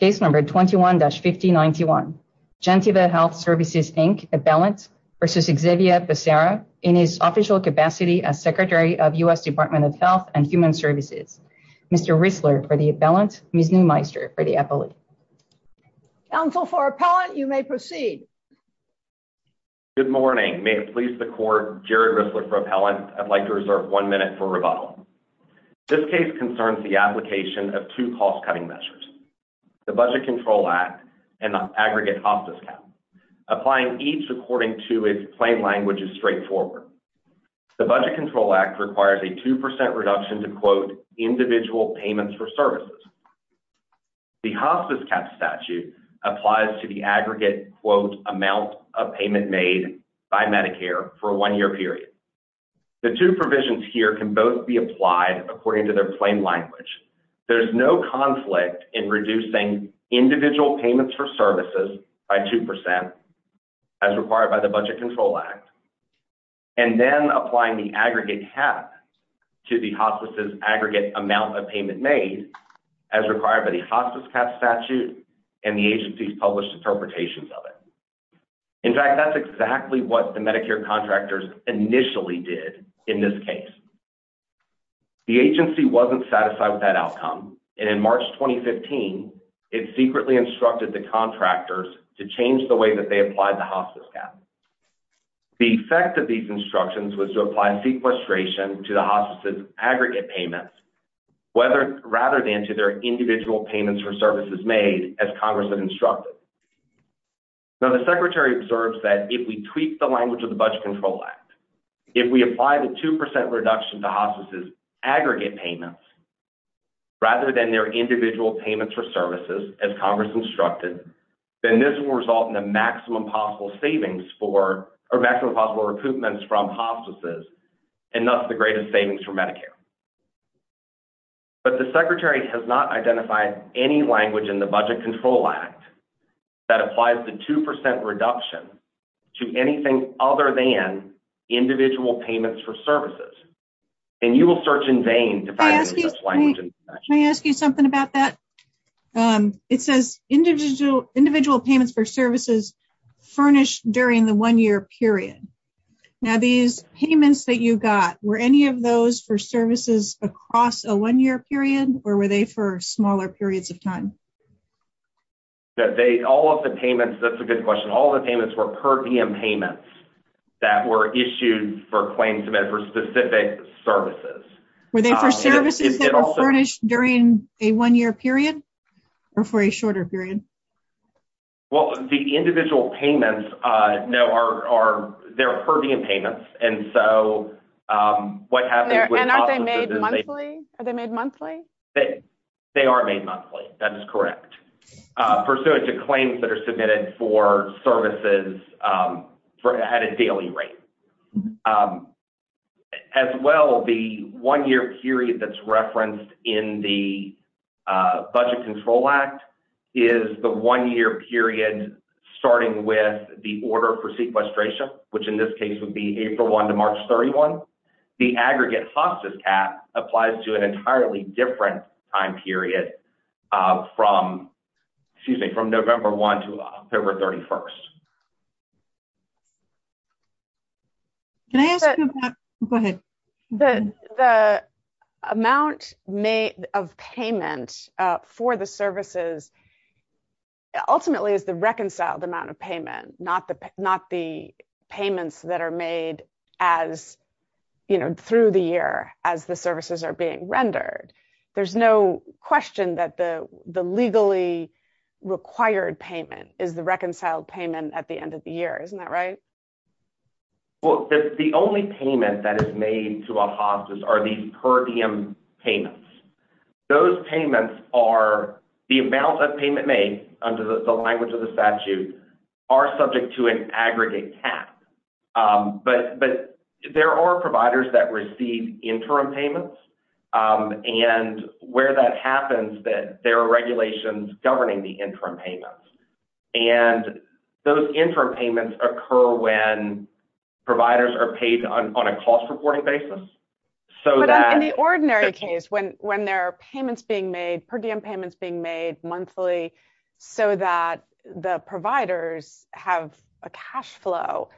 in his official capacity as Secretary of U.S. Department of Health and Human Services. Mr. Rissler for the appellant, Ms. Neumeister for the appellate. Counsel for appellant, you may proceed. Good morning. May it please the court, Jared Rissler for appellant. I'd like to reserve one minute for rebuttal. This case concerns the application of two cost-cutting measures. The Budget Control Act and the aggregate hospice cap. Applying each according to its plain language is straightforward. The Budget Control Act requires a 2% reduction to quote, individual payments for services. The hospice cap statute applies to the aggregate quote amount of payment made by Medicare for a one-year period. The two provisions here can both be applied according to their plain language. There's no conflict in reducing individual payments for services by 2% as required by the Budget Control Act and then applying the aggregate cap to the hospice's aggregate amount of payment made as required by the hospice cap statute and the agency's published interpretations of it. In fact, that's exactly what the Medicare contractors initially did in this case. The agency wasn't satisfied with that outcome and in March 2015, it secretly instructed the contractors to change the way that they applied the hospice cap. The effect of these instructions was to apply sequestration to the hospice's aggregate payments rather than to their individual payments for services made as Congress had instructed. Now the Secretary observes that if we tweak the language of the Budget Control Act, if we apply the 2% reduction to hospice's aggregate payments rather than their individual payments for services as Congress instructed, then this will result in the maximum possible savings for, or maximum possible recoupments from hospices and thus the greatest savings for Medicare. But the Secretary has not identified any language in the Budget Control Act that applies the 2% reduction to anything other than individual payments for services. And you will search in vain to find such language. Can I ask you something about that? It says individual payments for services furnished during the one-year period. Now these payments that you got, were any of those for services across a one-year period or were they for smaller periods of time? All of the payments, that's a good question. Those are individual payments that were issued for claims submitted for specific services. Were they for services that were furnished during a one-year period? Or for a shorter period? Well, the individual payments, no, are, they're Herbian payments. And so, what happens with hospices is And aren't they made monthly? Are they made monthly? They are made monthly, that is correct. Pursuant to claims that are submitted for services at a daily rate. As well, the one-year period that's referenced in the Budget Control Act is the one-year period starting with the order for sequestration, which in this case would be April 1 to March 31. The aggregate hospice cap applies to an entirely different time period from, excuse me, from November 1 to October 31. Can I ask Go ahead. The amount made of payment for the services ultimately is the reconciled amount of payment, not the payments that are made as through the year as the services are being rendered. There's no question that the legally required payment is the reconciled payment at the end of the year. Isn't that right? Well, the only payment that is made to a hospice are these Herbian payments. Those payments are, the amount of payment made under the language of the statute are subject to an aggregate cap. But there are providers that receive interim payments, and where that happens there are regulations governing the interim payments. Those interim payments occur when providers are paid on a cost-reporting basis. In the ordinary case, when there are payments being made, per diem payments being made monthly so that the providers have a cash flow,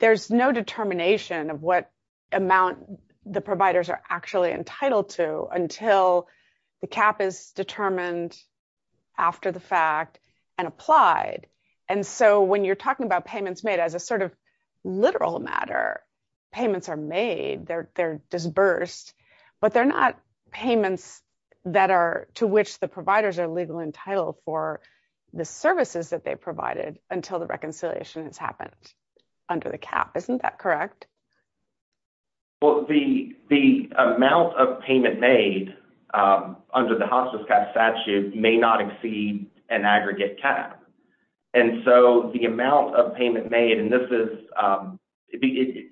there's no determination of what amount the providers are actually entitled to until the cap is determined after the fact and applied. And so when you're talking about payments made as a sort of literal matter, payments are made. They're disbursed, but they're not payments that are to which the providers are legally entitled for the services that they provided until the reconciliation has happened under the cap. Isn't that correct? Well, the amount of payment made under the hospice cap statute may not exceed an aggregate cap. And so the amount of payment made, and this is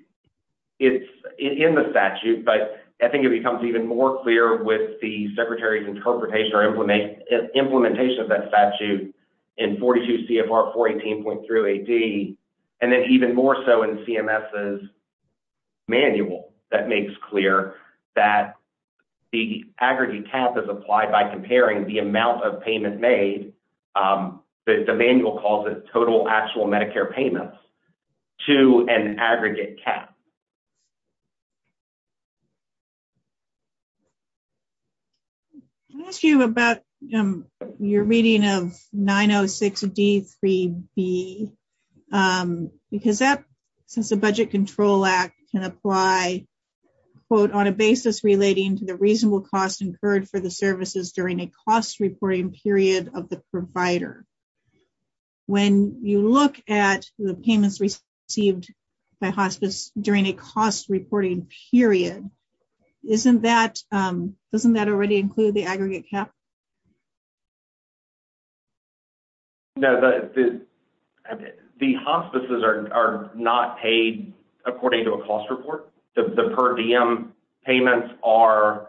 it's in the statute, but I think it becomes even more clear with the Secretary's interpretation or implementation of that statute in 42 CFR 418.3 AD and then even more so in CMS's manual that makes clear that the aggregate cap is applied by comparing the amount of payment made, the manual calls it total actual Medicare payments, to an aggregate cap. Can I ask you about your reading of 906 D3B? Because that, since the Budget Control Act can apply, quote, on a basis relating to the reasonable cost incurred for the services during a cost reporting period of the provider. When you look at the payments received by hospice during a cost reporting period, isn't that doesn't that already include the aggregate cap? No, the hospices are not paid according to a cost report. The per diem payments are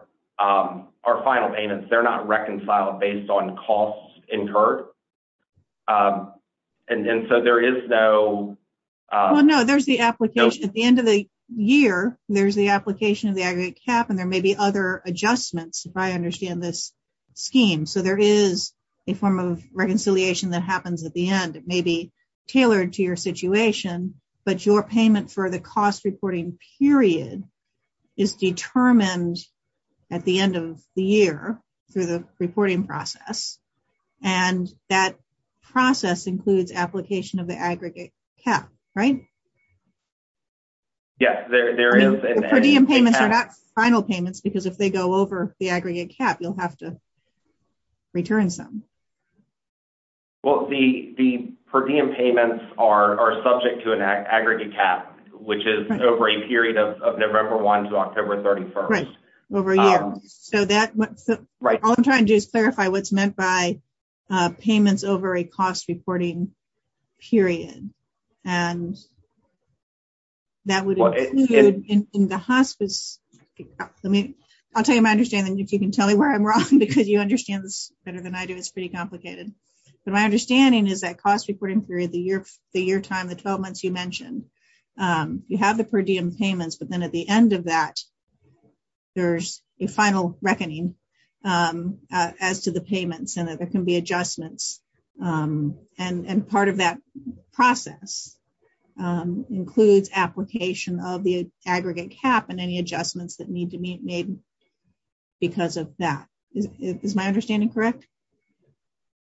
final payments. They're not reconciled based on costs incurred. And so there is no Well, no, there's the application. At the end of the year, there's the application of the aggregate cap, and there may be other adjustments, if I understand this scheme. So there is a form of reconciliation that happens at the end. It may be tailored to your situation, but your payment for the cost reporting period is determined at the end of the year through the reporting process. And that process includes application of the aggregate cap, right? Yes, there is. The per diem payments are not final payments, because if they go over the aggregate cap, you'll have to return some. Well, the per diem payments are subject to an aggregate cap, which is over a period of November 1 to October 31. Right, over a year. So all I'm trying to do is clarify what's meant by payments over a cost reporting period. And that would include in the hospice. I'll tell you my understanding, if you can tell me where I'm wrong, because you understand this better than I do, it's pretty complicated. But my understanding is that cost reporting period, the year time, the 12 months you mentioned, you have the per diem payments, but then at the end of that, there's a final reckoning as to the payments and that there can be adjustments. And part of that process includes application of the aggregate cap and any adjustments that need to be made because of that. Is my understanding correct?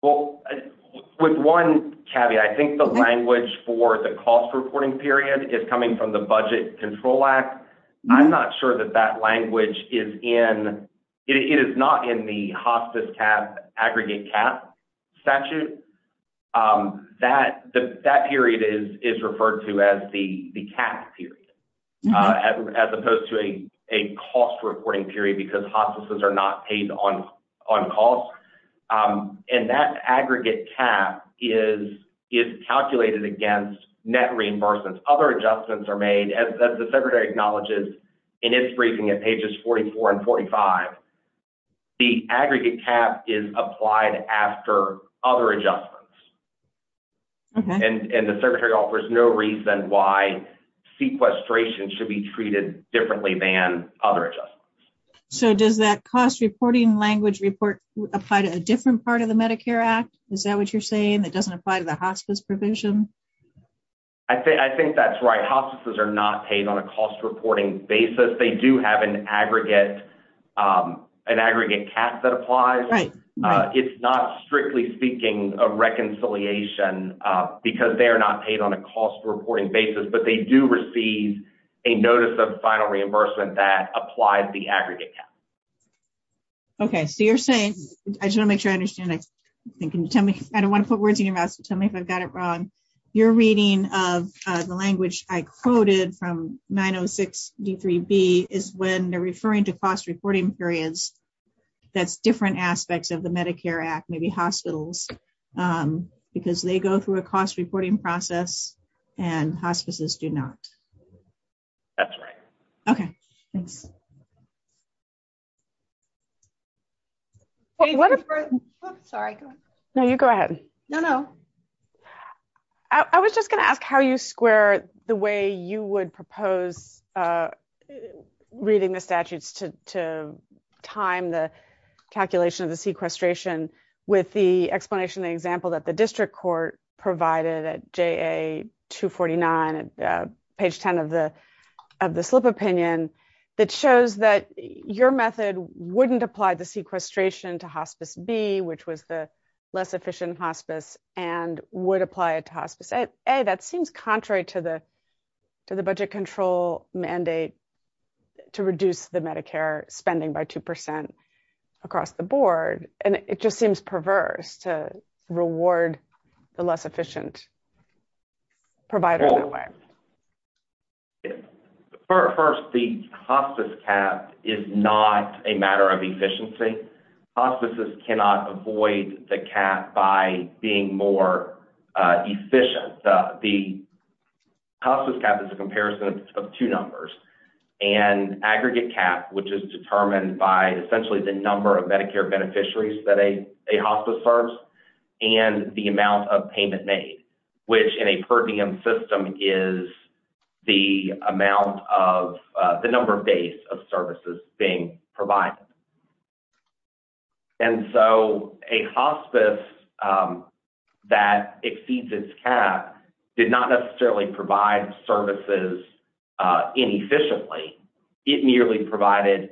Well, with one caveat, I think the language for the cost reporting period is coming from the Budget Control Act. I'm not sure that that language is in it is not in the hospice cap aggregate cap statute. That period is referred to as the cap period, as opposed to a cost reporting period because hospices are not paid on cost. And that aggregate cap is calculated against net reimbursements. Other adjustments are made as the secretary acknowledges in its briefing at pages 44 and 45. The aggregate cap is applied after other adjustments. And the secretary offers no reason why sequestration should be treated differently than other adjustments. So does that cost reporting language report apply to a different part of the Medicare Act? Is that what you're saying? That doesn't apply to the hospice provision? I think that's right. Hospices are not paid on a cost reporting basis. They do have an aggregate cap that applies. It's not, strictly speaking, a reconciliation because they are not paid on a cost reporting basis, but they do receive a notice of final reimbursement that applies the aggregate cap. Okay, so you're saying, I just want to make sure I understand. I don't want to use your mouse to tell me if I've got it wrong. You're reading of the language I quoted from 906 D3B is when they're referring to cost reporting periods that's different aspects of the Medicare Act, maybe hospitals, because they go through a cost reporting process and hospices do not. That's right. Okay, thanks. Sorry. No, you go ahead. No, no. I was just going to ask how you square the way you would propose reading the statutes to time the calculation of the sequestration with the explanation example that the district court provided at JA 249 at page 10 of the slip opinion that shows that your method wouldn't apply the sequestration to hospice B, which was the less efficient hospice and would apply it to hospice A. That seems contrary to the budget control mandate to reduce the Medicare spending by 2% across the board, and it just seems perverse to reward the less efficient provider that way. First, the hospice cap is not a matter of efficiency. Hospices cannot avoid the cap by being more efficient. The hospice cap is a comparison of two numbers, an aggregate cap, which is determined by essentially the number of Medicare beneficiaries that a hospice serves and the amount of payment made, which in a per diem system is the amount of the number of days of services being provided. And so a hospice that exceeds its cap did not necessarily provide services inefficiently. It merely provided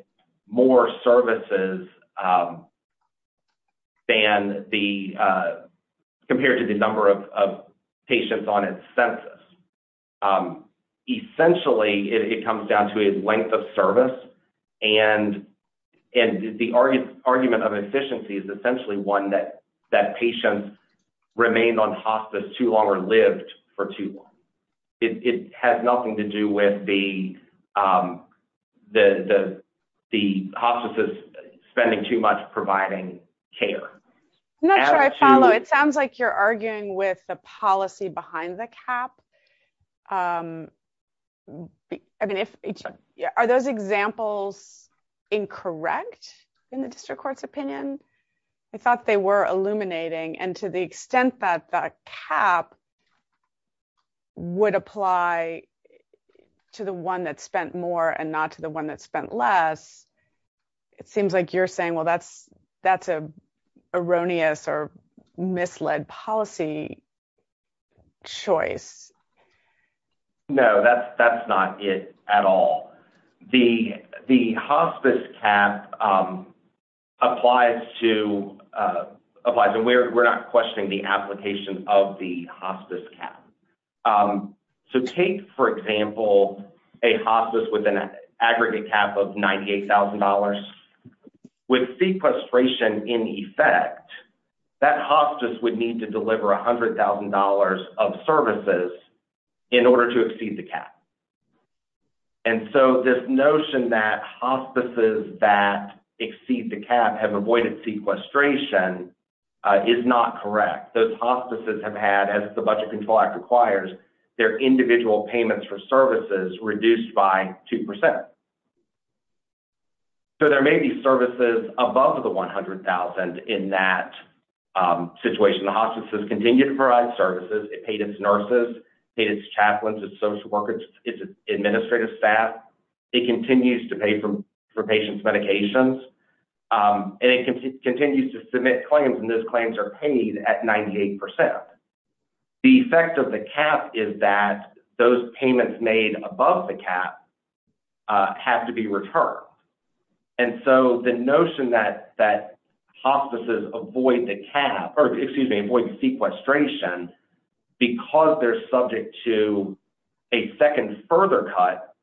more services than the, compared to the number of patients on its census. Essentially, it comes down to its length of service and the argument of efficiency is essentially one that patients remained on hospice too long or lived for too long. It has nothing to do with the hospices spending too much providing care. I'm not sure I follow. It sounds like you're arguing with the policy behind the cap. Are those examples incorrect in the district court's opinion? I thought they were illuminating and to the extent that the cap would apply to the one that spent more and not to the one that spent less, it seems like you're saying, well, that's an erroneous or misled policy choice. No, that's not it at all. The hospice cap applies to, we're not questioning the application of the hospice cap. So take, for example, a hospice with an aggregate cap of $98,000 with sequestration in effect, that hospice would need to deliver $100,000 of services in order to exceed the cap. And so this notion that hospices that exceed the cap have avoided sequestration is not correct. Those hospices have had, as the Budget Control Act requires, their individual payments for services reduced by 2%. So there may be services above the $100,000 in that situation. Hospices continue to provide services. It paid its nurses, paid its chaplains, its social workers, its administrative staff. It continues to pay for patients' medications, and it continues to submit claims, and those claims are paid at 98%. The effect of the cap is that those payments made above the cap have to be returned. And so the notion that hospices avoid the cap, or excuse me, avoid sequestration because they're subject to a second further cut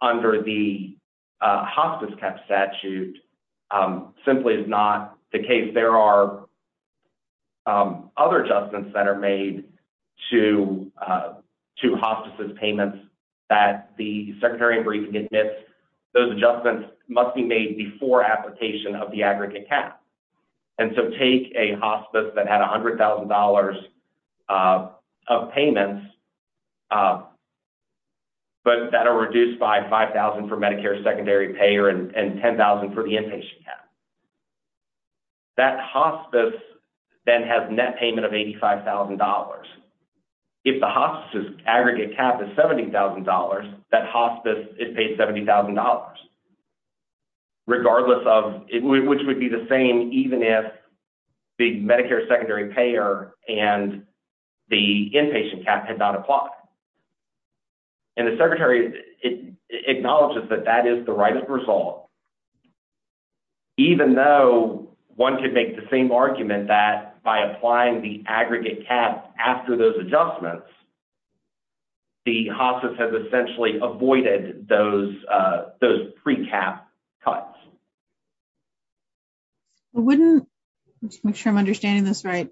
under the hospice cap statute simply is not the case. There are other adjustments that are made to hospices' payments that the Secretary of Briefing admits those adjustments must be made before application of the aggregate cap. And so take a hospice that had $100,000 of payments but that are reduced by $5,000 for Medicare secondary pay and $10,000 for the inpatient cap. That hospice then has net payment of $85,000. If the hospice's aggregate cap is $70,000 that hospice is paid $70,000 regardless of, which would be the same even if the Medicare secondary payer and the inpatient cap had not applied. And the Secretary acknowledges that that is the right of resolve even though one could make the same argument that by applying the aggregate cap after those adjustments the hospice has essentially avoided those pre-cap cuts. I'm not sure I'm understanding this right.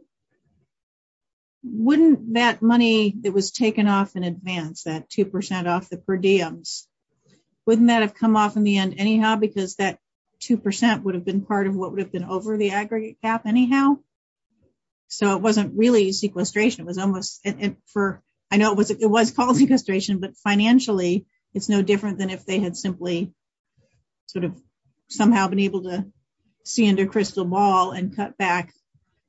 Wouldn't that money that was taken off in advance that 2% off the per diems, wouldn't that have come off in the end anyhow because that 2% would have been part of what would have been over the aggregate cap anyhow? So it wasn't really sequestration. I know it was called sequestration but financially it's no different than if they had simply somehow been able to see under crystal ball and cut back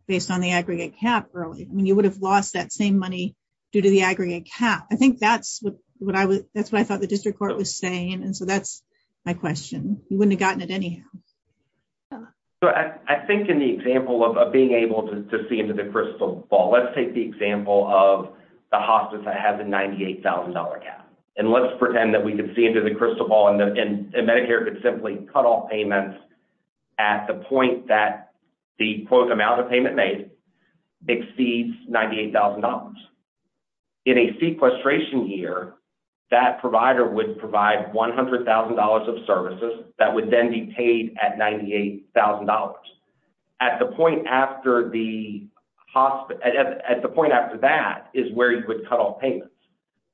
based on the aggregate cap early. I mean you would have lost that same money due to the aggregate cap. I think that's what I thought the District Court was saying and so that's my question. You wouldn't have gotten it anyhow. So I think in the example of being able to see under the crystal ball, let's take the example of the hospice that has a $98,000 cap. And let's pretend that we could see under the crystal ball and Medicare could simply cut off payments at the point that the quote amount of payment made exceeds $98,000. In a sequestration year that provider would provide $100,000 of services that would then be paid at $98,000. At the point after that is where you would cut off payments.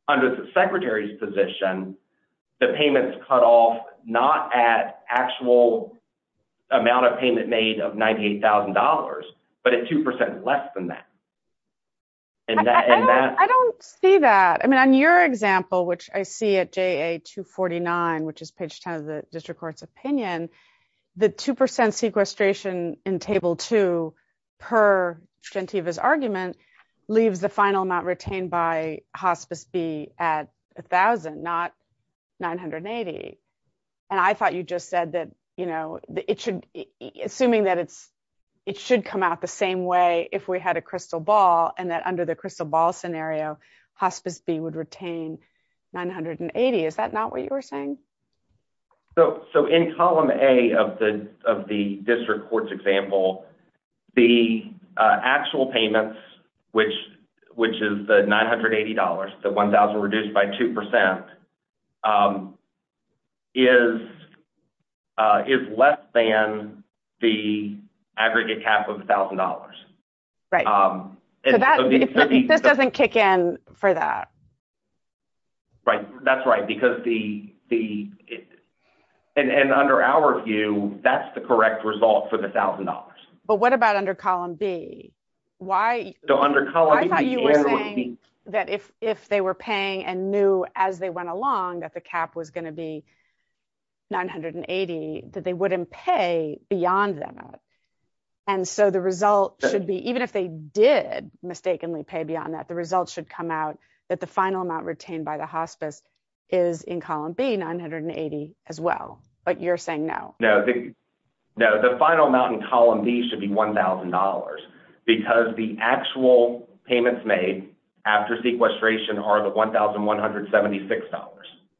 Under the Secretary's position, the payments cut off not at actual amount of payment made of $98,000 but at 2% less than that. I don't see that. I mean on your example which I see at page 10 of the District Court's opinion, the 2% sequestration in Table 2 per Gentiva's argument leaves the final amount retained by Hospice B at $1,000, not $980,000. And I thought you just said that assuming that it should come out the same way if we had a crystal ball and that under the crystal ball scenario, Hospice B would retain $980,000. Is that not what you were saying? So in column A of the District Court's example, the actual payments which is the $980,000 the $1,000 reduced by 2% is less than the aggregate cap of $1,000. This doesn't kick in for that. That's right because the and under our view, that's the correct result for the $1,000. But what about under column B? I thought you were saying that if they were paying and knew as they went along that the cap was going to be $980,000 that they wouldn't pay beyond that amount. And so the result should be even if they did mistakenly pay beyond that, the result should come out that the final amount retained by the Hospice is in column B $980,000 as well. But you're saying no. No, the final amount in column B should be $1,000 because the actual payments made after sequestration are the $1,176.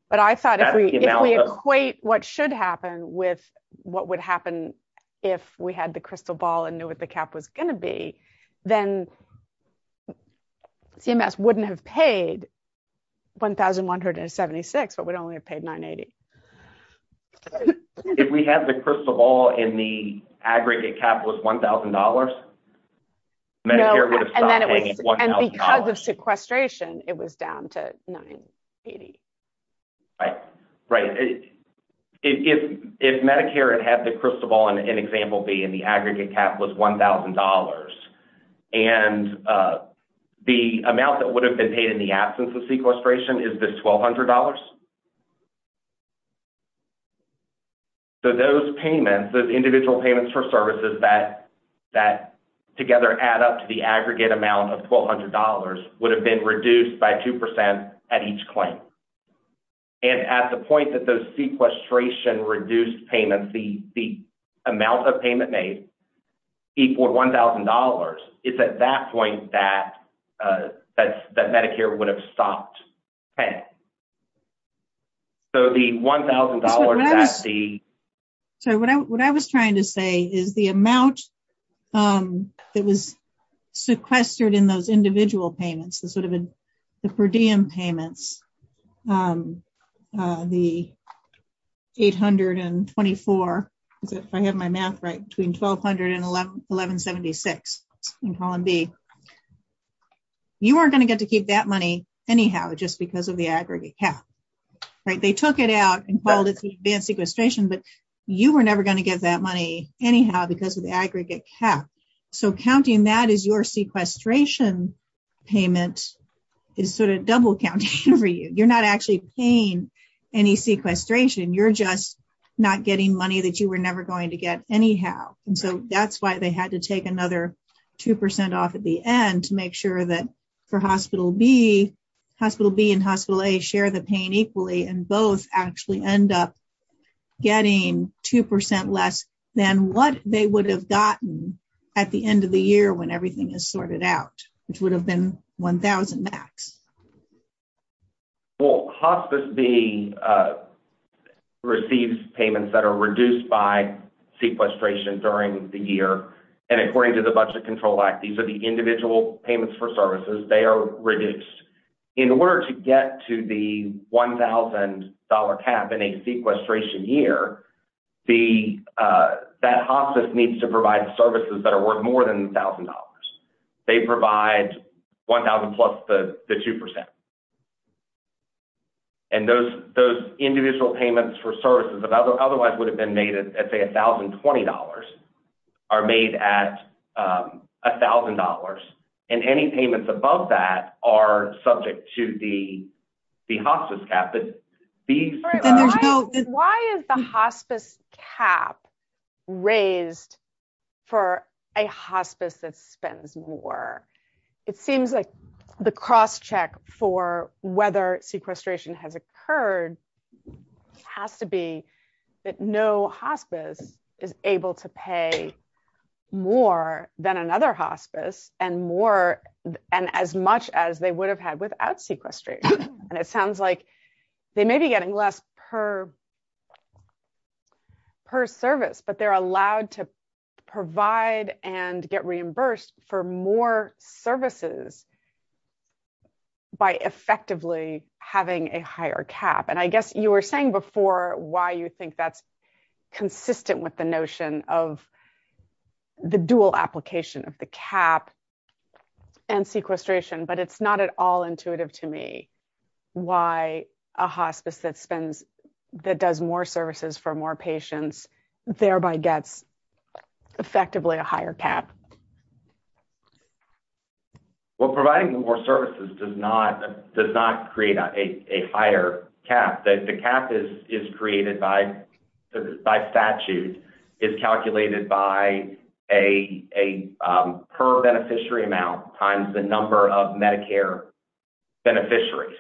But I thought if we equate what should happen with what would happen if we had the crystal ball and knew what the cap was going to be, then CMS wouldn't have paid $1,176 but would only have paid $980,000. If we had the crystal ball and the aggregate cap was $1,000, Medicare would have stopped paying $1,000. And because of sequestration, it was down to $980,000. Right. If the aggregate cap was $1,000 and the amount that would have been paid in the absence of sequestration is this $1,200. So those payments, those individual payments for services that together add up to the aggregate amount of $1,200 would have been reduced by 2% at each claim. And at the point that those sequestration reduced payments, the amount of payment made equaled $1,000, it's at that point that Medicare would have stopped paying. So the $1,000... What I was trying to say is the amount that was sequestered in those individual payments, the sort of per diem payments, the $824, if I have my math right, between $1,200 and $1,176 in column B, you weren't going to get to keep that money anyhow, just because of the aggregate cap. They took it out and called it the advanced sequestration, but you were never going to get that money anyhow because of the aggregate cap. So counting that as your sequestration payment is sort of double counting for you. You're not actually paying any sequestration, you're just not getting money that you were never going to get anyhow. And so that's why they had to take another 2% off at the end to make sure that for hospital B, hospital B and hospital A share the pain equally and both actually end up getting 2% less than what they would have gotten at the end of the year when everything is sorted out, which would have been $1,000 max. Well, hospice B receives payments that are reduced by sequestration during the year. And according to the Budget Control Act, these are the individual payments for services. They are reduced. In order to get to the $1,000 cap in a sequestration year, that hospice needs to provide services that are worth more than $1,000. They provide $1,000 plus the 2%. And those individual payments for services that otherwise would have been made at say $1,020 are made at $1,000. And any payments above that are subject to the hospice cap. Why is the hospice cap raised for a hospice that doesn't have sequestration? It seems like the cross check for whether sequestration has occurred has to be that no hospice is able to pay more than another hospice and more and as much as they would have had without sequestration. And it sounds like they may be getting less per service, but they're allowed to provide and get reimbursed for more services by effectively having a higher cap. And I guess you were saying before why you think that's consistent with the notion of the dual application of the cap and sequestration, but it's not at all intuitive to me why a hospice that does more services for more patients thereby gets effectively a higher cap. Well, providing more services does not create a higher cap. The cap is created by statute, is calculated by a per beneficiary amount times the number of Medicare beneficiaries.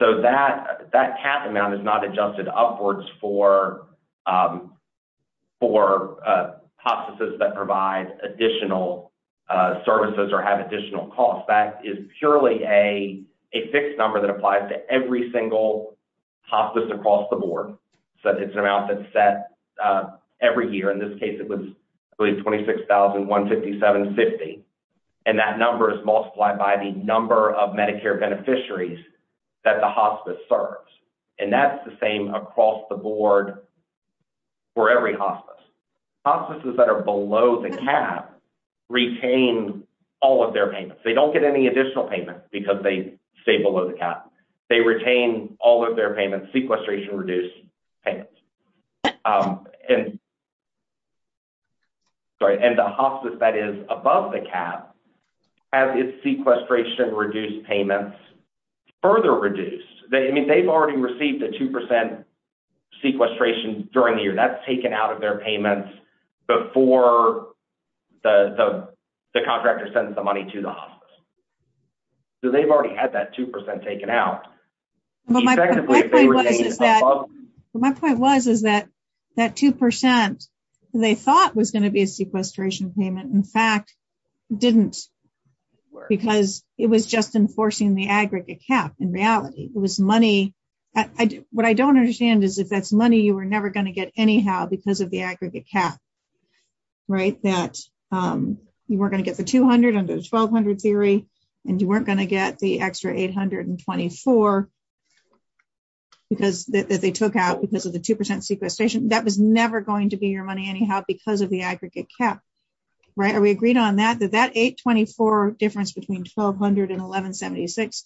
So that cap amount is not adjusted upwards for hospices that provide additional services or have additional costs. That is purely a fixed number that applies to every single hospice across the board. So it's an amount that's set every year. In this case it was I believe 26,157.50. And that number is multiplied by the number of beneficiaries that the hospice serves. And that's the same across the board for every hospice. Hospices that are below the cap retain all of their payments. They don't get any additional payment because they stay below the cap. They retain all of their payments, sequestration reduced payments. And the hospice that is above the cap has its sequestration reduced payments further reduced. They've already received a 2% sequestration during the year. That's taken out of their payments before the contractor sends the money to the hospice. So they've already had that 2% taken out. My point was is that that 2% they thought was going to be a sequestration payment in fact didn't because it was just enforcing the aggregate cap. In reality it was money what I don't understand is if that's money you were never going to get anyhow because of the aggregate cap. You weren't going to get the 200 under the 1200 theory and you weren't going to get the extra 824 that they took out because of the 2% sequestration. That was never going to be your money anyhow because of the aggregate cap. Are we agreed on that? That 824 difference between 1200 and 1176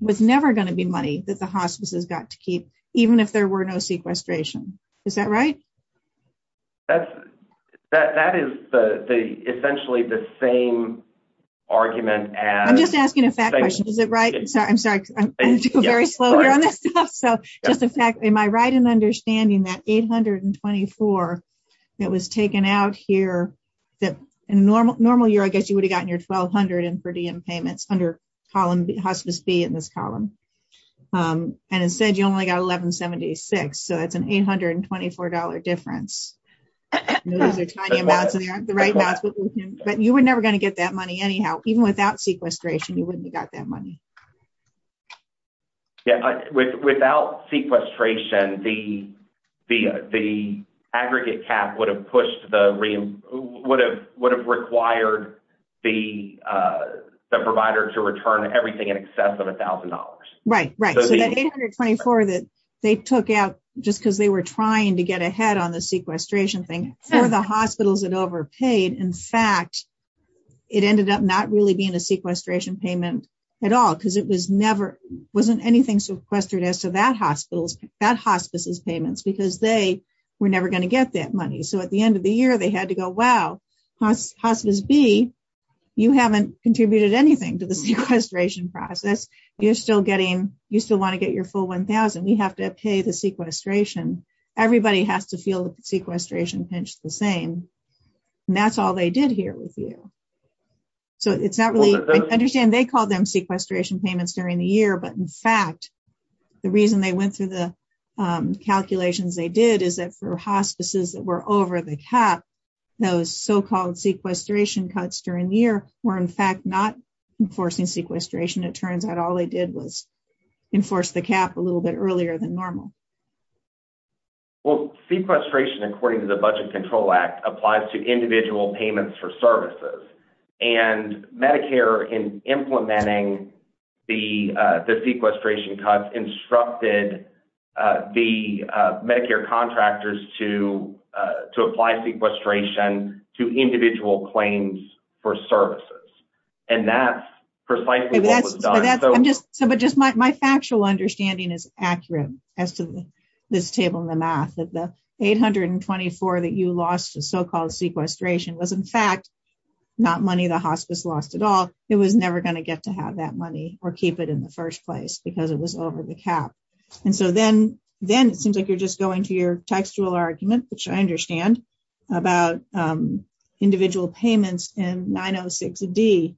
was never going to be money that the hospice has got to keep even if there were no sequestration. Is that right? That is essentially the same argument as... I'm just asking a fact question. Is it right? I'm sorry. Am I right in understanding that the 824 that was taken out here in a normal year I guess you would have gotten your 1200 in per diem payments under hospice B in this column. It said you only got 1176 so that's an $824 difference. Those are tiny amounts and they aren't the right amounts but you were never going to get that money anyhow even without sequestration you wouldn't have got that money. Without sequestration then the aggregate cap would have required the provider to return everything in excess of $1000. Right. So that 824 that they took out just because they were trying to get ahead on the sequestration thing for the hospitals that overpaid in fact it ended up not really being a sequestration payment at all because it wasn't anything sequestered as to that hospice's payments because they were never going to get that money. So at the end of the year they had to go wow hospice B you haven't contributed anything to the sequestration process. You still want to get your full 1000. We have to pay the sequestration. Everybody has to feel the sequestration pinch the same and that's all they did here with you. So it's not really... I understand they call them sequestration payments during the year but in fact the reason they went through the calculations they did is that for hospices that were over the cap those so-called sequestration cuts during the year were in fact not enforcing sequestration. It turns out all they did was enforce the cap a little bit earlier than normal. Well sequestration according to the Budget Control Act applies to individual payments for services and Medicare in implementing the sequestration cuts instructed the Medicare contractors to apply sequestration to individual claims for services. And that's precisely what was done. My factual understanding is accurate as to this table in the math that the 824 that you lost to so-called sequestration was in fact not money the hospice lost at all. It was never going to get to have that money or keep it in the first place because it was over the cap. And so then it seems like you're just going to your textual argument which I understand about individual payments in 906D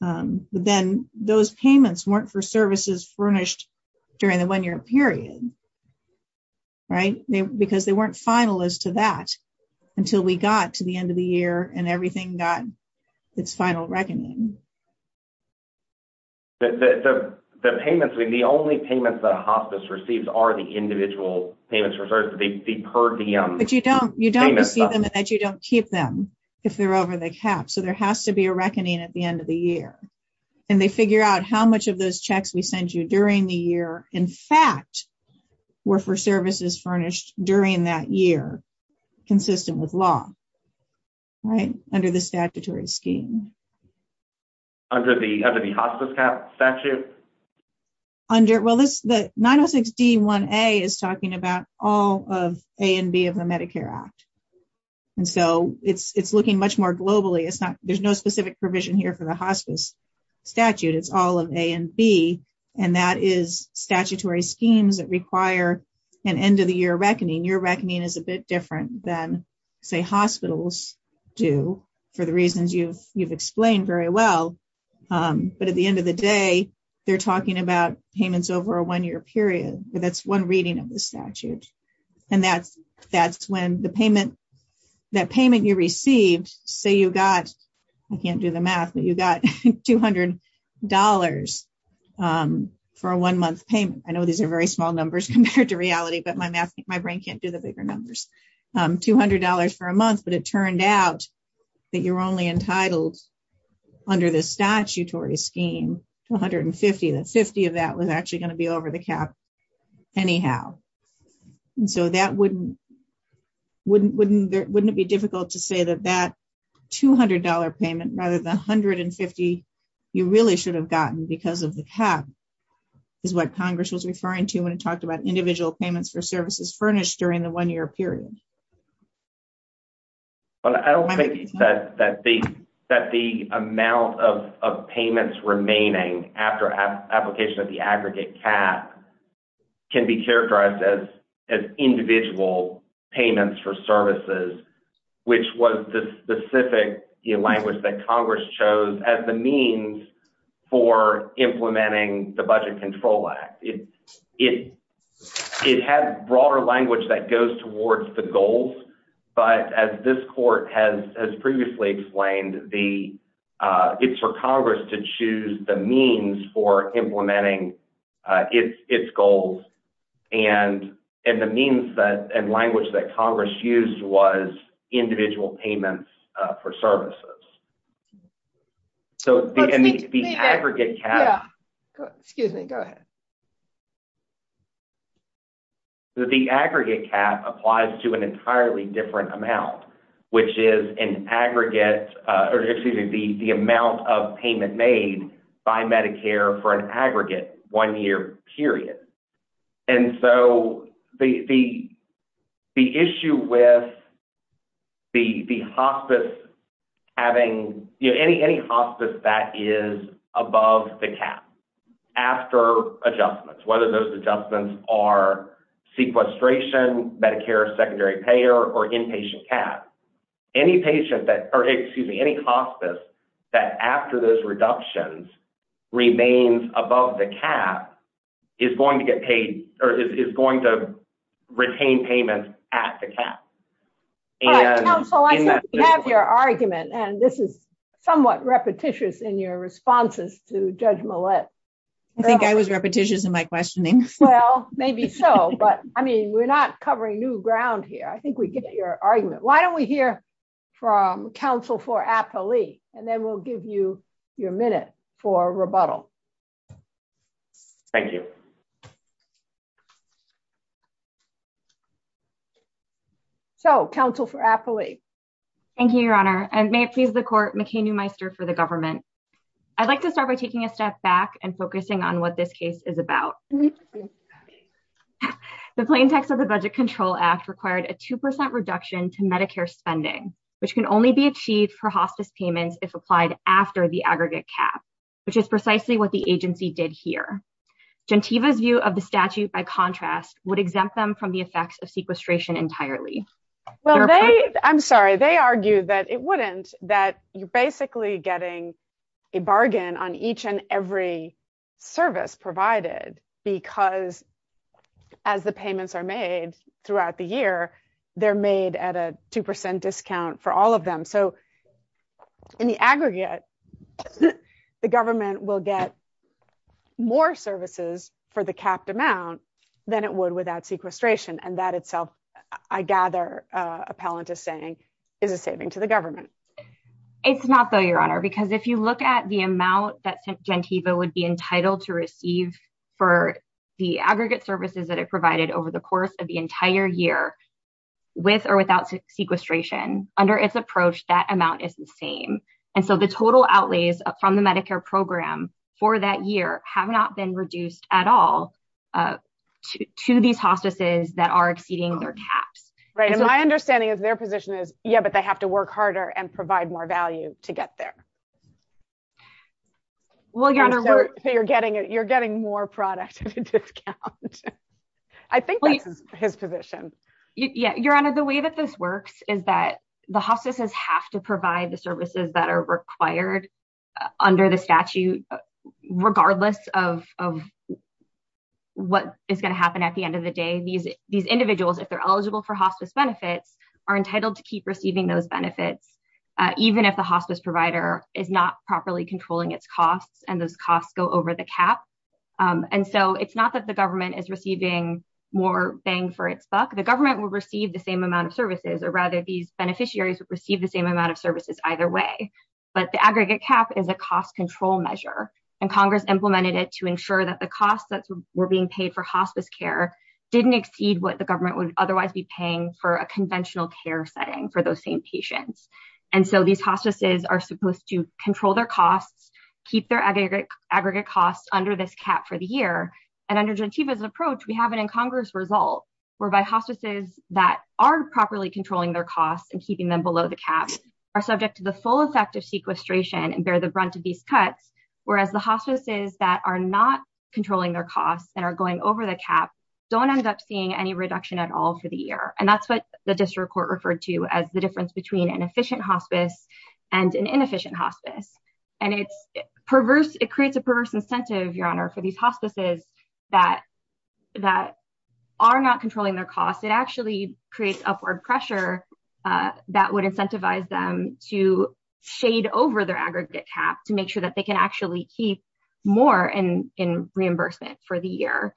but then those payments weren't for services furnished during the one year period. Because they weren't final as to that until we got to the end of the year and everything got its final reckoning. The payments, the only payments the hospice receives are the individual payments referred to the per diem. But you don't receive them and you don't keep them if they're over the cap. So there has to be a reckoning at the end of the year. And they figure out how much of those checks we sent you during the year in fact were for services furnished during that year consistent with law under the statutory scheme. Under the hospice cap statute? The 906D1A is talking about all of A and B of the Medicare Act. And so it's looking much more globally. There's no specific provision here for the hospice statute. It's all of A and B. And that is statutory schemes that require an end of the year reckoning. Your reckoning is a bit different than say hospitals do for the reasons you've explained very well. But at the end of the day, they're talking about payments over a one year period. That's one reading of the statute. And that's when the payment, that payment you received, say you got, I can't do the math, but you got $200 for a one month payment. I know these are very small numbers compared to reality, but my brain can't do the bigger numbers. $200 for a month, but it turned out that you're only entitled under the statutory scheme to $150. That $50 of that was actually going to be over the cap anyhow. And so that wouldn't be difficult to say that that $200 payment rather than $150 you really should have gotten because of the cap is what Congress was referring to when it talked about individual payments for services furnished during the one year period. I don't think that the amount of payments remaining after application of the aggregate cap can be characterized as individual payments for services, which was the specific language that Congress chose as the means for implementing the Budget Control Act. It has broader language that goes towards the goals, but as this court has previously explained, it's for Congress to choose the means for implementing its goals and the means and language that Congress used was individual payments for services. Excuse me, go ahead. The aggregate cap applies to an entirely different amount, which is the amount of payment made by Medicare for an aggregate one year period. And so the issue with the hospice having any hospice that is above the cap after adjustments, whether those adjustments are sequestration, Medicare secondary payer, or inpatient cap, any hospice that after those reductions remains above the cap is going to get paid or is going to retain payments at the cap. All right, counsel, I think we have your argument, and this is somewhat repetitious in your responses to Judge Millett. I think I was repetitious in my questioning. Well, maybe so, but I mean, we're not covering new ground here. I think we get your argument. Why don't we hear from counsel for Apolli, and then we'll give you your minute for rebuttal. Thank you. So, counsel for Apolli. Thank you, Your Honor, and may it please the court, McKay Newmeister for the government. I'd like to start by taking a step back and focusing on what this case is about. The plain text of the Budget Control Act required a 2% reduction to Medicare spending, which can only be achieved for hospice payments if applied after the aggregate cap, which is precisely what the agency did here. Jantiva's view of the statute, by contrast, would exempt them from the effects of sequestration entirely. Well, they, I'm sorry, they argue that it wouldn't, that you're basically getting a bargain on each and every service provided because as the payments are made throughout the year, they're made at a 2% discount for all of them. So, in the aggregate, the government will get more services for the capped amount than it would without sequestration, and that itself, I gather, appellant is saying, is a saving to the government. It's not, though, Your Honor, because if you look at the amount that Jantiva would be entitled to receive for the aggregate services that it provided over the course of the entire year, with or without sequestration, under its approach, that amount is the same. And so, the total outlays from the Medicare program for that year have not been reduced at all to these hostesses that are exceeding their caps. Right, and my understanding of their position is, yeah, but they have to work harder and provide more value to get there. Well, Your Honor, we're... So, you're getting more product at a discount. I think that's his position. Yeah, Your Honor, the way that this works is that the hostesses have to provide the services that are required under the statute regardless of what is going to happen at the end of the day. These individuals, if they're eligible for hospice benefits, are entitled to keep receiving those benefits, even if the hospice provider is not properly controlling its costs, and those costs go over the cap. And so, it's not that the government is receiving more bang for its buck. The government will receive the same amount of services, or rather, these benefits, either way. But the aggregate cap is a cost control measure, and Congress implemented it to ensure that the costs that were being paid for hospice care didn't exceed what the government would otherwise be paying for a conventional care setting for those same patients. And so, these hostesses are supposed to control their costs, keep their aggregate costs under this cap for the year, and under Gentiva's approach, we have an incongruous result whereby hostesses that are properly controlling their costs and keeping them below the cap are subject to the full effect of sequestration and bear the brunt of these cuts, whereas the hostesses that are not controlling their costs and are going over the cap don't end up seeing any reduction at all for the year. And that's what the district court referred to as the difference between an efficient hospice and an inefficient hospice. And it's perverse. It creates a perverse incentive, Your Honor, for these hospices that are not controlling their costs. It actually creates upward pressure that would incentivize them to shade over their aggregate cap to make sure that they can actually keep more in reimbursement for the year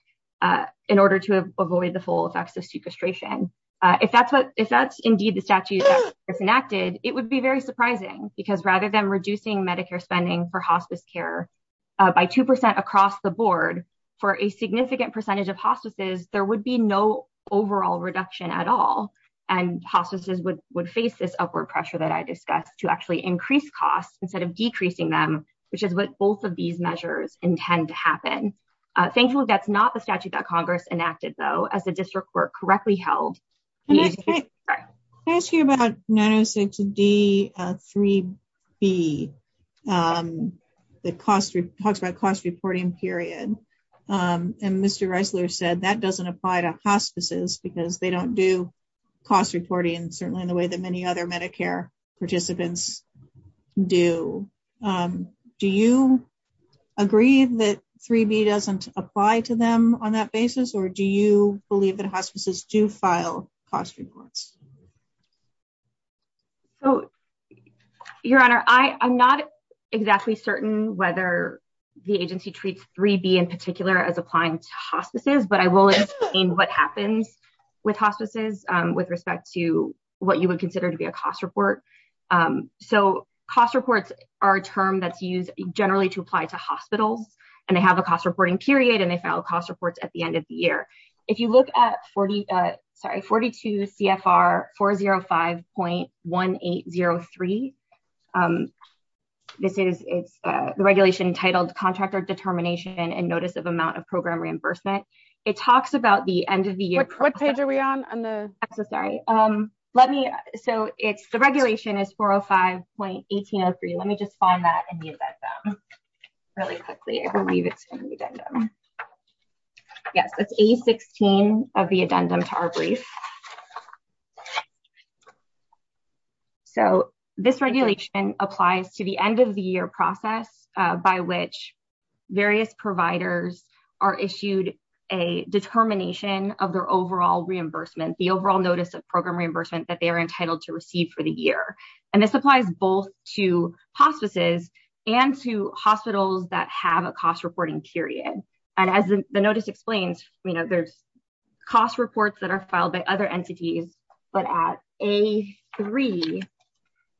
in order to avoid the full effects of sequestration. If that's indeed the statute that's enacted, it would be very surprising because rather than reducing Medicare spending for hospice care by 2% across the board for a significant percentage of hostesses, there would be no overall reduction at all, and hostesses would face this upward pressure that I discussed to actually increase costs instead of decreasing them, which is what both of these measures intend to happen. Thankfully, that's not the statute that Congress enacted, though, as the district court correctly held. I'm going to ask you about 906 D-3B that talks about cost reporting, period. And Mr. Reisler said that doesn't apply to hospices because they don't do cost reporting certainly in the way that many other Medicare participants do. Do you agree that 3B doesn't apply to them on that basis, or do you believe that hospices do file cost reports? Your Honor, I'm not exactly certain whether the agency treats 3B in particular as applying to hospices, but I will explain what happens with hospices with respect to what you would consider to be a cost report. Cost reports are a term that's used generally to apply to hospitals, and they have a cost reporting period, and they file cost reports at the end of the year. If you look at 42 CFR 405.1803, this is the regulation titled Contractor Determination and Notice of Amount of Program Reimbursement. It talks about the end of the year. What page are we on? The regulation is 405.1803. Let me just find that in the addendum really quickly. I believe it's in the addendum. Yes, it's A16 of the addendum to our brief. This regulation applies to the end of the year process by which various providers are issued a determination of their overall reimbursement, the overall notice of program reimbursement that they are entitled to receive for the year. This applies both to hospices and to hospitals that have a cost reporting period. As the notice explains, there's cost reports that are filed by other entities, but at A3,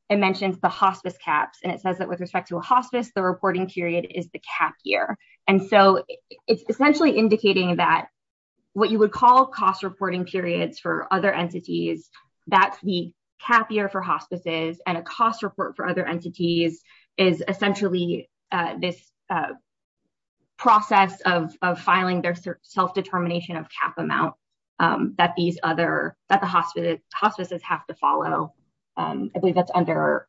it mentions the hospice caps, and it says that with respect to a hospice, the reporting period is the cap year. It's essentially indicating that what you would call cost reporting periods for other entities, that's the cap year for hospices, and a cost report for other entities is essentially this process of filing their self-determination of cap amount that the hospices have to follow. I believe that's under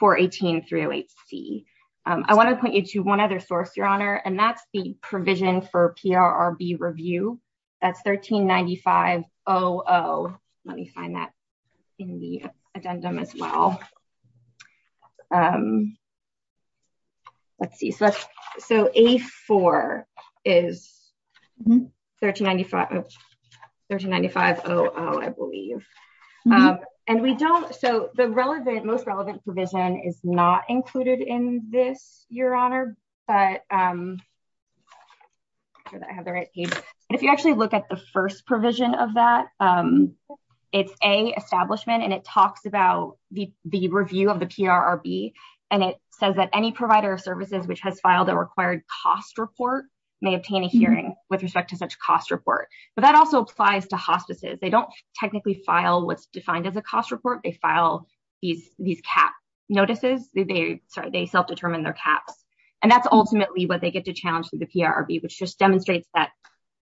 418308C. I want to point you to one other source, Your Honor, and that's the provision for PRRB review. That's 139500. Let me find that in the addendum as well. Let's see. A4 is 139500, I believe. The most relevant provision is not included in this, Your Honor. If you actually look at the first provision of that, it's A, establishment, and it talks about the review of the PRRB, and it says that any provider of services which has filed a required cost report may obtain a hearing with respect to such cost report, but that also applies to hospices. They don't technically file what's defined as a cost report. They file these cap notices. They self-determine their caps, and that's ultimately what they get to challenge through the PRRB, which just demonstrates that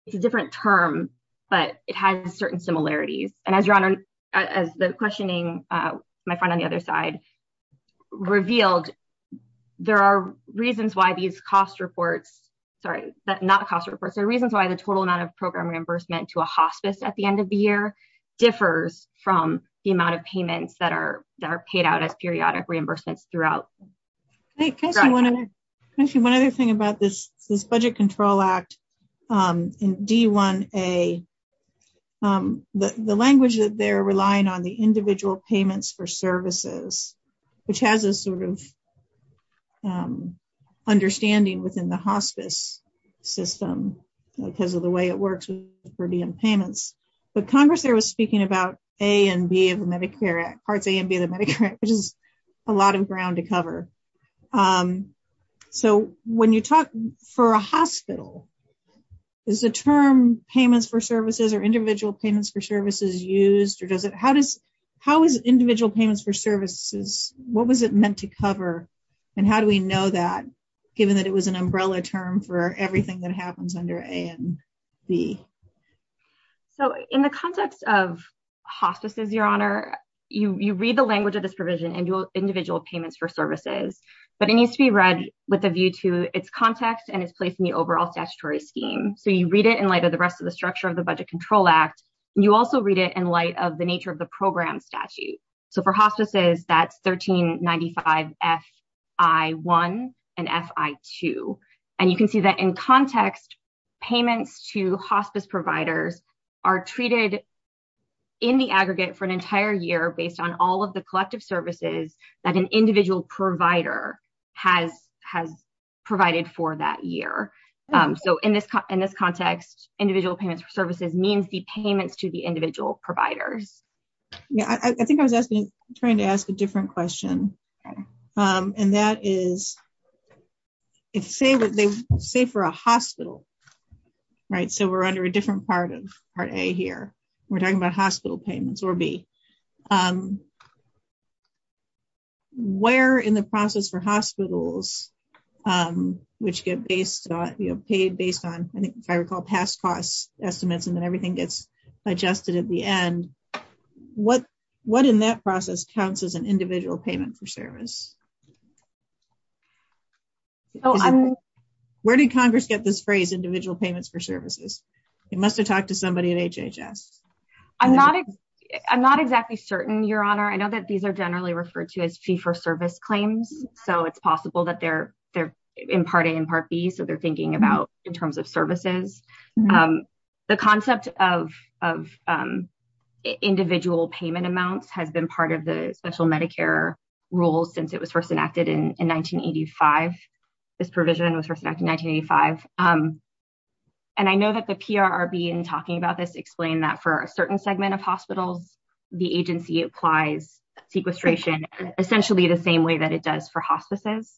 it's a different term, but it has certain similarities, and as the questioning, my friend on the other side, revealed there are reasons why these cost reports, sorry, not cost reports, there are reasons why the total amount of program reimbursement to a hospice at the end of the year differs from the amount of payments that are paid out as periodic reimbursements throughout. One other thing about this Budget Control Act in D1A, the language that they're relying on, the budget control act, which has a sort of understanding within the hospice system because of the way it works with the premium payments, but Congress there was speaking about parts A and B of the Medicare Act, which is a lot of ground to cover, so when you talk for a hospital, is the term payments for services or individual payments for services used, or does it what was it meant to cover, and how do we know that, given that it was an umbrella term for everything that happens under A and B? So in the context of hospices, Your Honor, you read the language of this provision, individual payments for services, but it needs to be read with a view to its context and its place in the overall statutory scheme. So you read it in light of the rest of the structure of the Budget Control Act, and you also read it in light of the nature of the program statute. So for hospices, that's 1395 F.I.1 and F.I.2, and you can see that in context payments to hospice providers are treated in the aggregate for an entire year based on all of the collective services that an individual provider has provided for that year. So in this context, individual payments for services means the payments to the individual providers. Yeah, I think I was trying to ask a different question. And that is, say for a hospital, right, so we're under a different part of Part A here. We're talking about hospital payments, or B. Where in the process for hospitals, which get paid based on, if I recall, past cost estimates, and then everything gets adjusted at the end, what in that process counts as an individual payment for service? Where did Congress get this phrase, individual payments for services? They must have talked to somebody at HHS. I'm not exactly certain, Your Honor. I know that these are generally referred to as fee-for-service claims, so it's possible that they're in Part A and Part B, so they're thinking about in terms of services. The concept of individual payment amounts has been part of the special Medicare rules since it was first enacted in 1985. This provision was first enacted in 1985. And I know that the PRRB in talking about this explained that for a certain segment of hospitals, the agency applies sequestration essentially the same way that it does for hospices.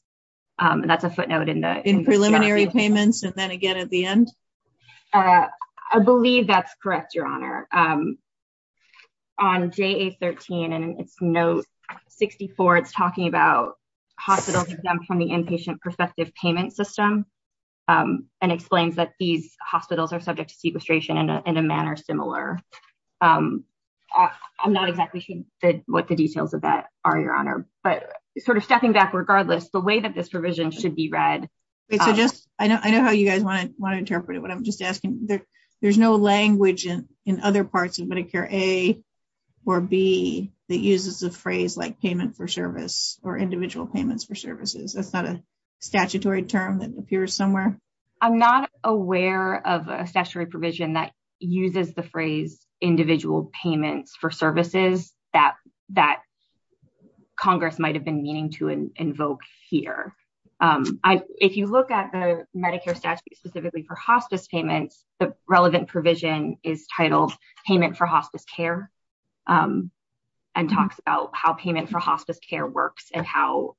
And that's a footnote in the preliminary payments, and then again at the end? I believe that's correct, Your Honor. On JA13 and its note 64, it's talking about hospitals exempt from the inpatient prospective payment system and explains that these hospitals are subject to sequestration in a manner similar. I'm not exactly sure what the details of that are, Your Honor. But sort of stepping back, regardless, the way that this provision should be read. I know how you guys want to interpret it, but I'm just asking. There's no language in other parts of Medicare A or B that uses a phrase like payment for service or individual payments for services. That's not a statutory term that appears somewhere? I'm not aware of a statutory provision that uses the phrase individual payments for services that Congress might have been meaning to invoke here. If you look at the Medicare statute specifically for hospice payments, the relevant provision is titled payment for hospice care and talks about how payment for hospice care works and how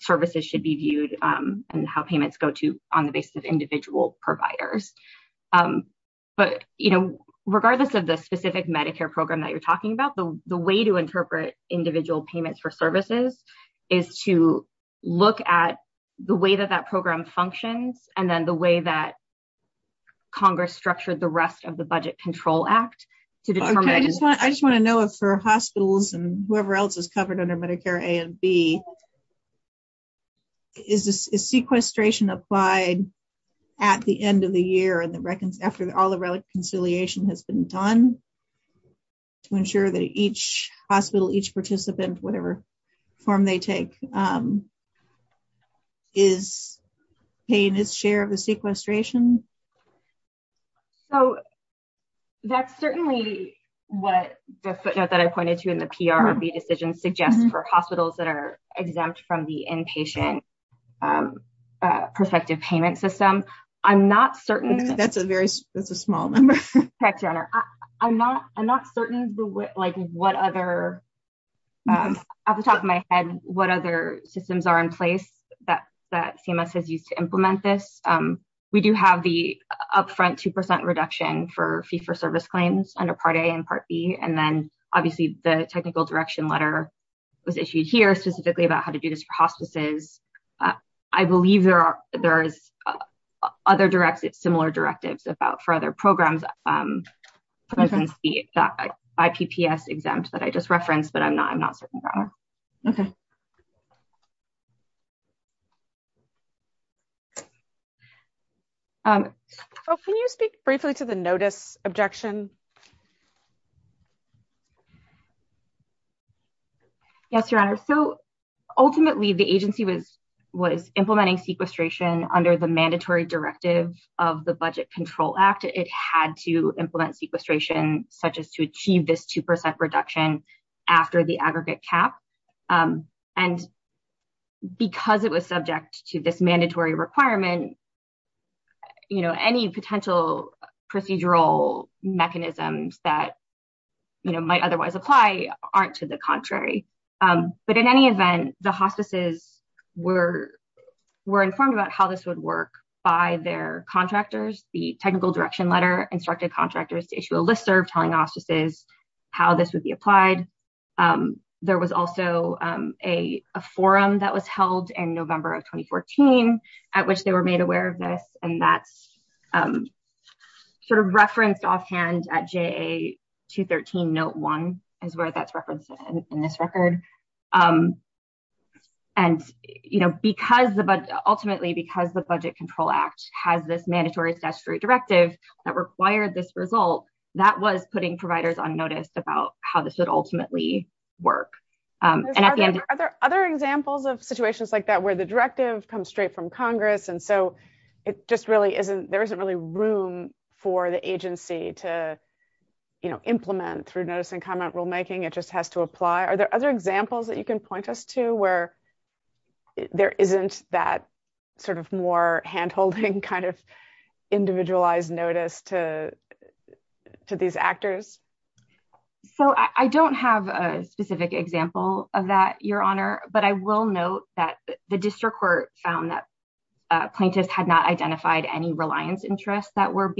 services should be viewed and how payments go to on the basis of individual providers. But regardless of the specific Medicare program that you're talking about, the way to interpret individual payments for services is to look at the way that that program functions and then the way that Congress structured the rest of the Budget Control Act. I just want to know if for hospitals and whoever else is covered under Medicare A and B, is sequestration applied at the end of the year after all the reconciliation has been done to ensure that each hospital, each participant, whatever form they take is paying its share of the sequestration? That's certainly what the footnote that I pointed to in the PR of the decision suggests for hospitals that are exempt from the inpatient prospective payment system. I'm not certain. That's a small number. I'm not certain what other systems are in place that CMS has used to implement this. We do have the upfront 2% reduction for fee-for-service claims under Part A and Part B and then obviously the technical direction letter was issued here specifically about how to do this for hospices. I believe there is other similar directives for other programs, for instance, the IPPS exempt that I just referenced, but I'm not certain. Okay. Can you speak briefly to the notice objection? Yes, Your Honor. Ultimately, the agency was implementing sequestration under the Budget Control Act. It had to implement sequestration such as to achieve this 2% reduction after the aggregate cap. Because it was subject to this mandatory requirement, any potential procedural mechanisms that might otherwise apply aren't to the contrary. But in any event, the hospices were informed about how this would work by their contractors. The technical direction letter instructed contractors to issue a listserv telling hospices how this would be applied. There was also a forum that was held in November of 2014 at which they were made aware of this. That's referenced offhand at JA 213 Note 1 is where that's referenced in this record. Ultimately, because the Budget Control Act has this mandatory statutory directive that required this result, that was putting providers on notice about how this would ultimately work. Are there other examples of situations like that where the directive comes straight from Congress and so there isn't really room for the agency to implement through notice and comment rulemaking? It just has to apply? Are there other examples that you can point us to where there isn't that sort of more hand-holding kind of individualized notice to these actors? I don't have a specific example of that, Your Honor, but I will note that the District Court found that plaintiffs had not identified any reliance interests that were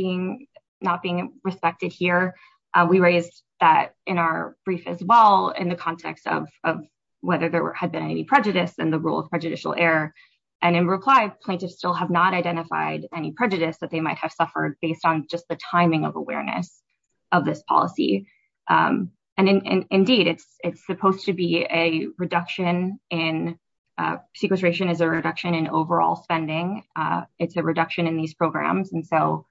not being respected here. We raised that in our brief as well in the context of whether there had been any prejudice in the rule of prejudicial error and in reply, plaintiffs still have not identified any prejudice that they might have suffered based on just the timing of awareness of this policy. Indeed, it's supposed to be a reduction in sequestration is a reduction in overall spending. It's a reduction in these programs and so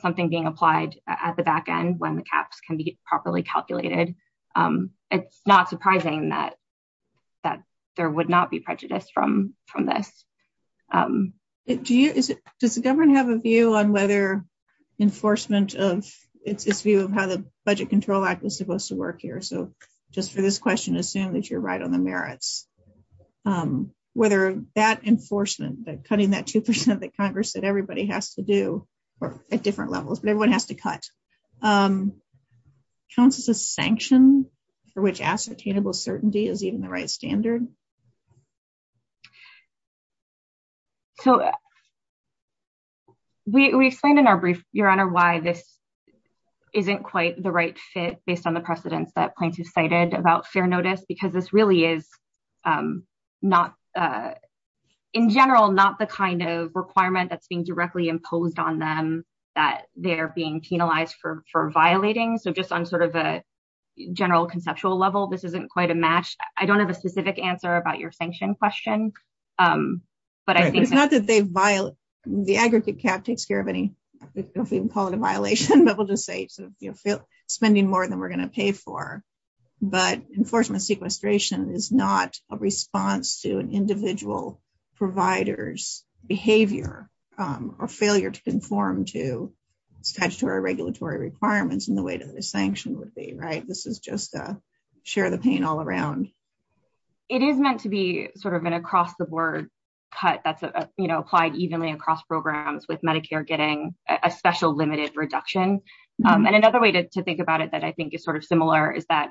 something being applied at the back end when the caps can be properly calculated. It's not surprising that there would not be prejudice from this. Does the government have a view on whether enforcement of its view of how the Budget Control Act was supposed to work here? So just for this question, assume that you're right on the merits. Whether that enforcement, that cutting that 2% that Congress said everybody has to do at different levels, but everyone has to cut counts as a sanction for which ascertainable certainty is even the right standard. So we explained in our brief, Your Honor, why this isn't quite the right fit based on the precedence that plaintiffs cited about fair notice because this really is not in general, not the kind of requirement that's being directly imposed on them that they're being penalized for violating. So just on sort of a general conceptual level, this isn't quite a match. I don't have a specific answer about your sanction question. It's not that they've violated, the aggregate cap takes care of any, if we can call it a violation, but we'll just say spending more than we're going to pay for. But enforcement sequestration is not a response to an individual provider's behavior or failure to conform to statutory regulatory requirements in the way that a sanction would be. This is just a share the pain all around. It is meant to be sort of an across the board cut that's applied evenly across programs with Medicare getting a special limited reduction. And another way to think about it that I think is sort of similar is that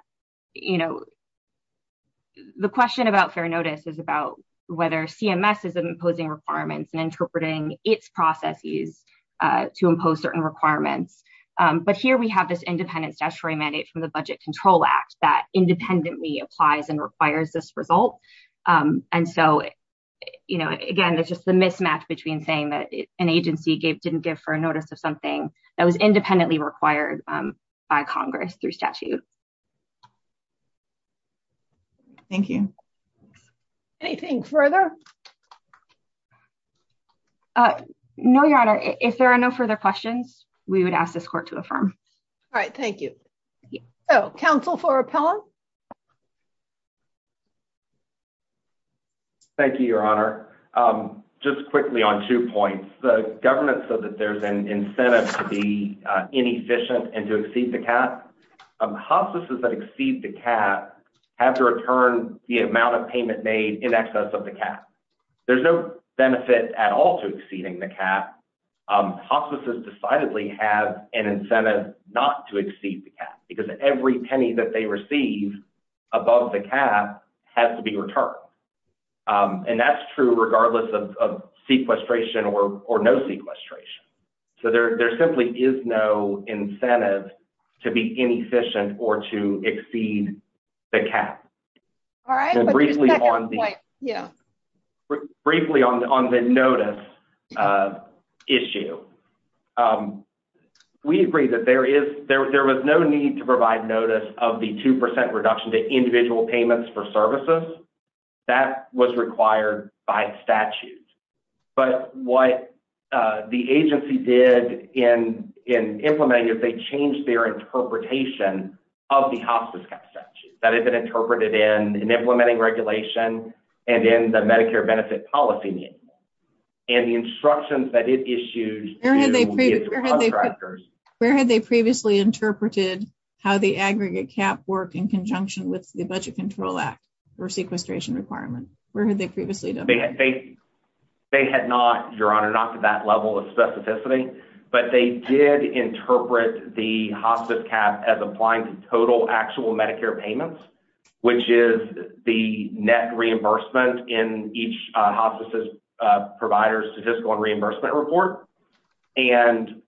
the question about fair notice is about whether CMS is imposing requirements and interpreting its processes to impose certain requirements. But here we have this independent statutory mandate from the Budget Control Act that independently applies and requires this result. And so, again, there's just the mismatch between saying that an agency didn't give fair notice of something that was independently required by Congress through statute. Thank you. Anything further? No, Your Honor. If there are no further questions, we would ask this court to affirm. All right. Thank you. Thank you, Your Honor. Just quickly on two points. The government said that there's an incentive to be inefficient and to exceed the cap. Hospices that exceed the cap have to return the amount of payment made in excess of the cap. There's no benefit at all to exceeding the cap. Hospices decidedly have an incentive not to exceed the cap because every penny that they receive above the cap has to be returned. And that's true regardless of sequestration or no sequestration. So there simply is no incentive to be inefficient or to exceed the cap. Briefly on the notice issue. We agree that there was no need to provide notice of the 2% reduction to individual payments for services. That was required by statute. But what the agency did in implementing it, they changed their interpretation of the hospice cap statute. That had been interpreted in implementing regulation and in the Medicare benefit policy meeting. And the instructions that it issued to the contractors. Where had they previously interpreted how the aggregate cap worked in conjunction with the Budget Control Act for sequestration requirement? Where had they previously done that? They had not, Your Honor, not to that level of specificity. But they did interpret the hospice cap as applying to total actual Medicare payments. Which is the net reimbursement in each hospice provider's statistical and reimbursement report. And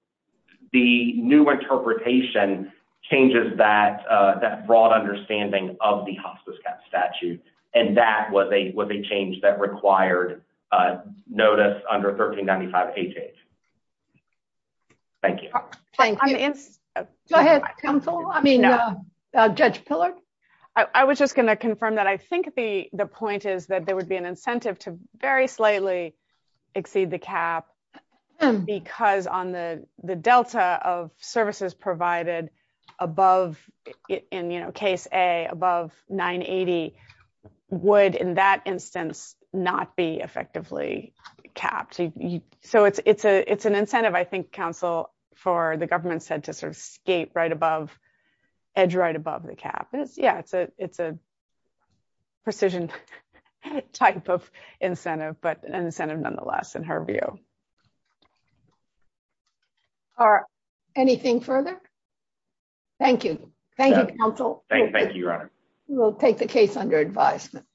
the new interpretation changes that broad understanding of the hospice cap statute. And that was a change that required notice under 1395HH. Thank you. Go ahead, counsel. I mean, Judge Pillard. I was just going to confirm that I think the point is that there would be an incentive to very slightly exceed the cap. Because on the delta of services provided above, in case A, above 980, would in that instance not be effectively capped. So it's an incentive, I think, counsel, for the government said to sort of skate right above, edge right above the cap. Yeah, it's a precision type of incentive. But an incentive nonetheless, in her view. Anything further? Thank you. Thank you, counsel. Thank you, Your Honor. We'll take the case under advisement.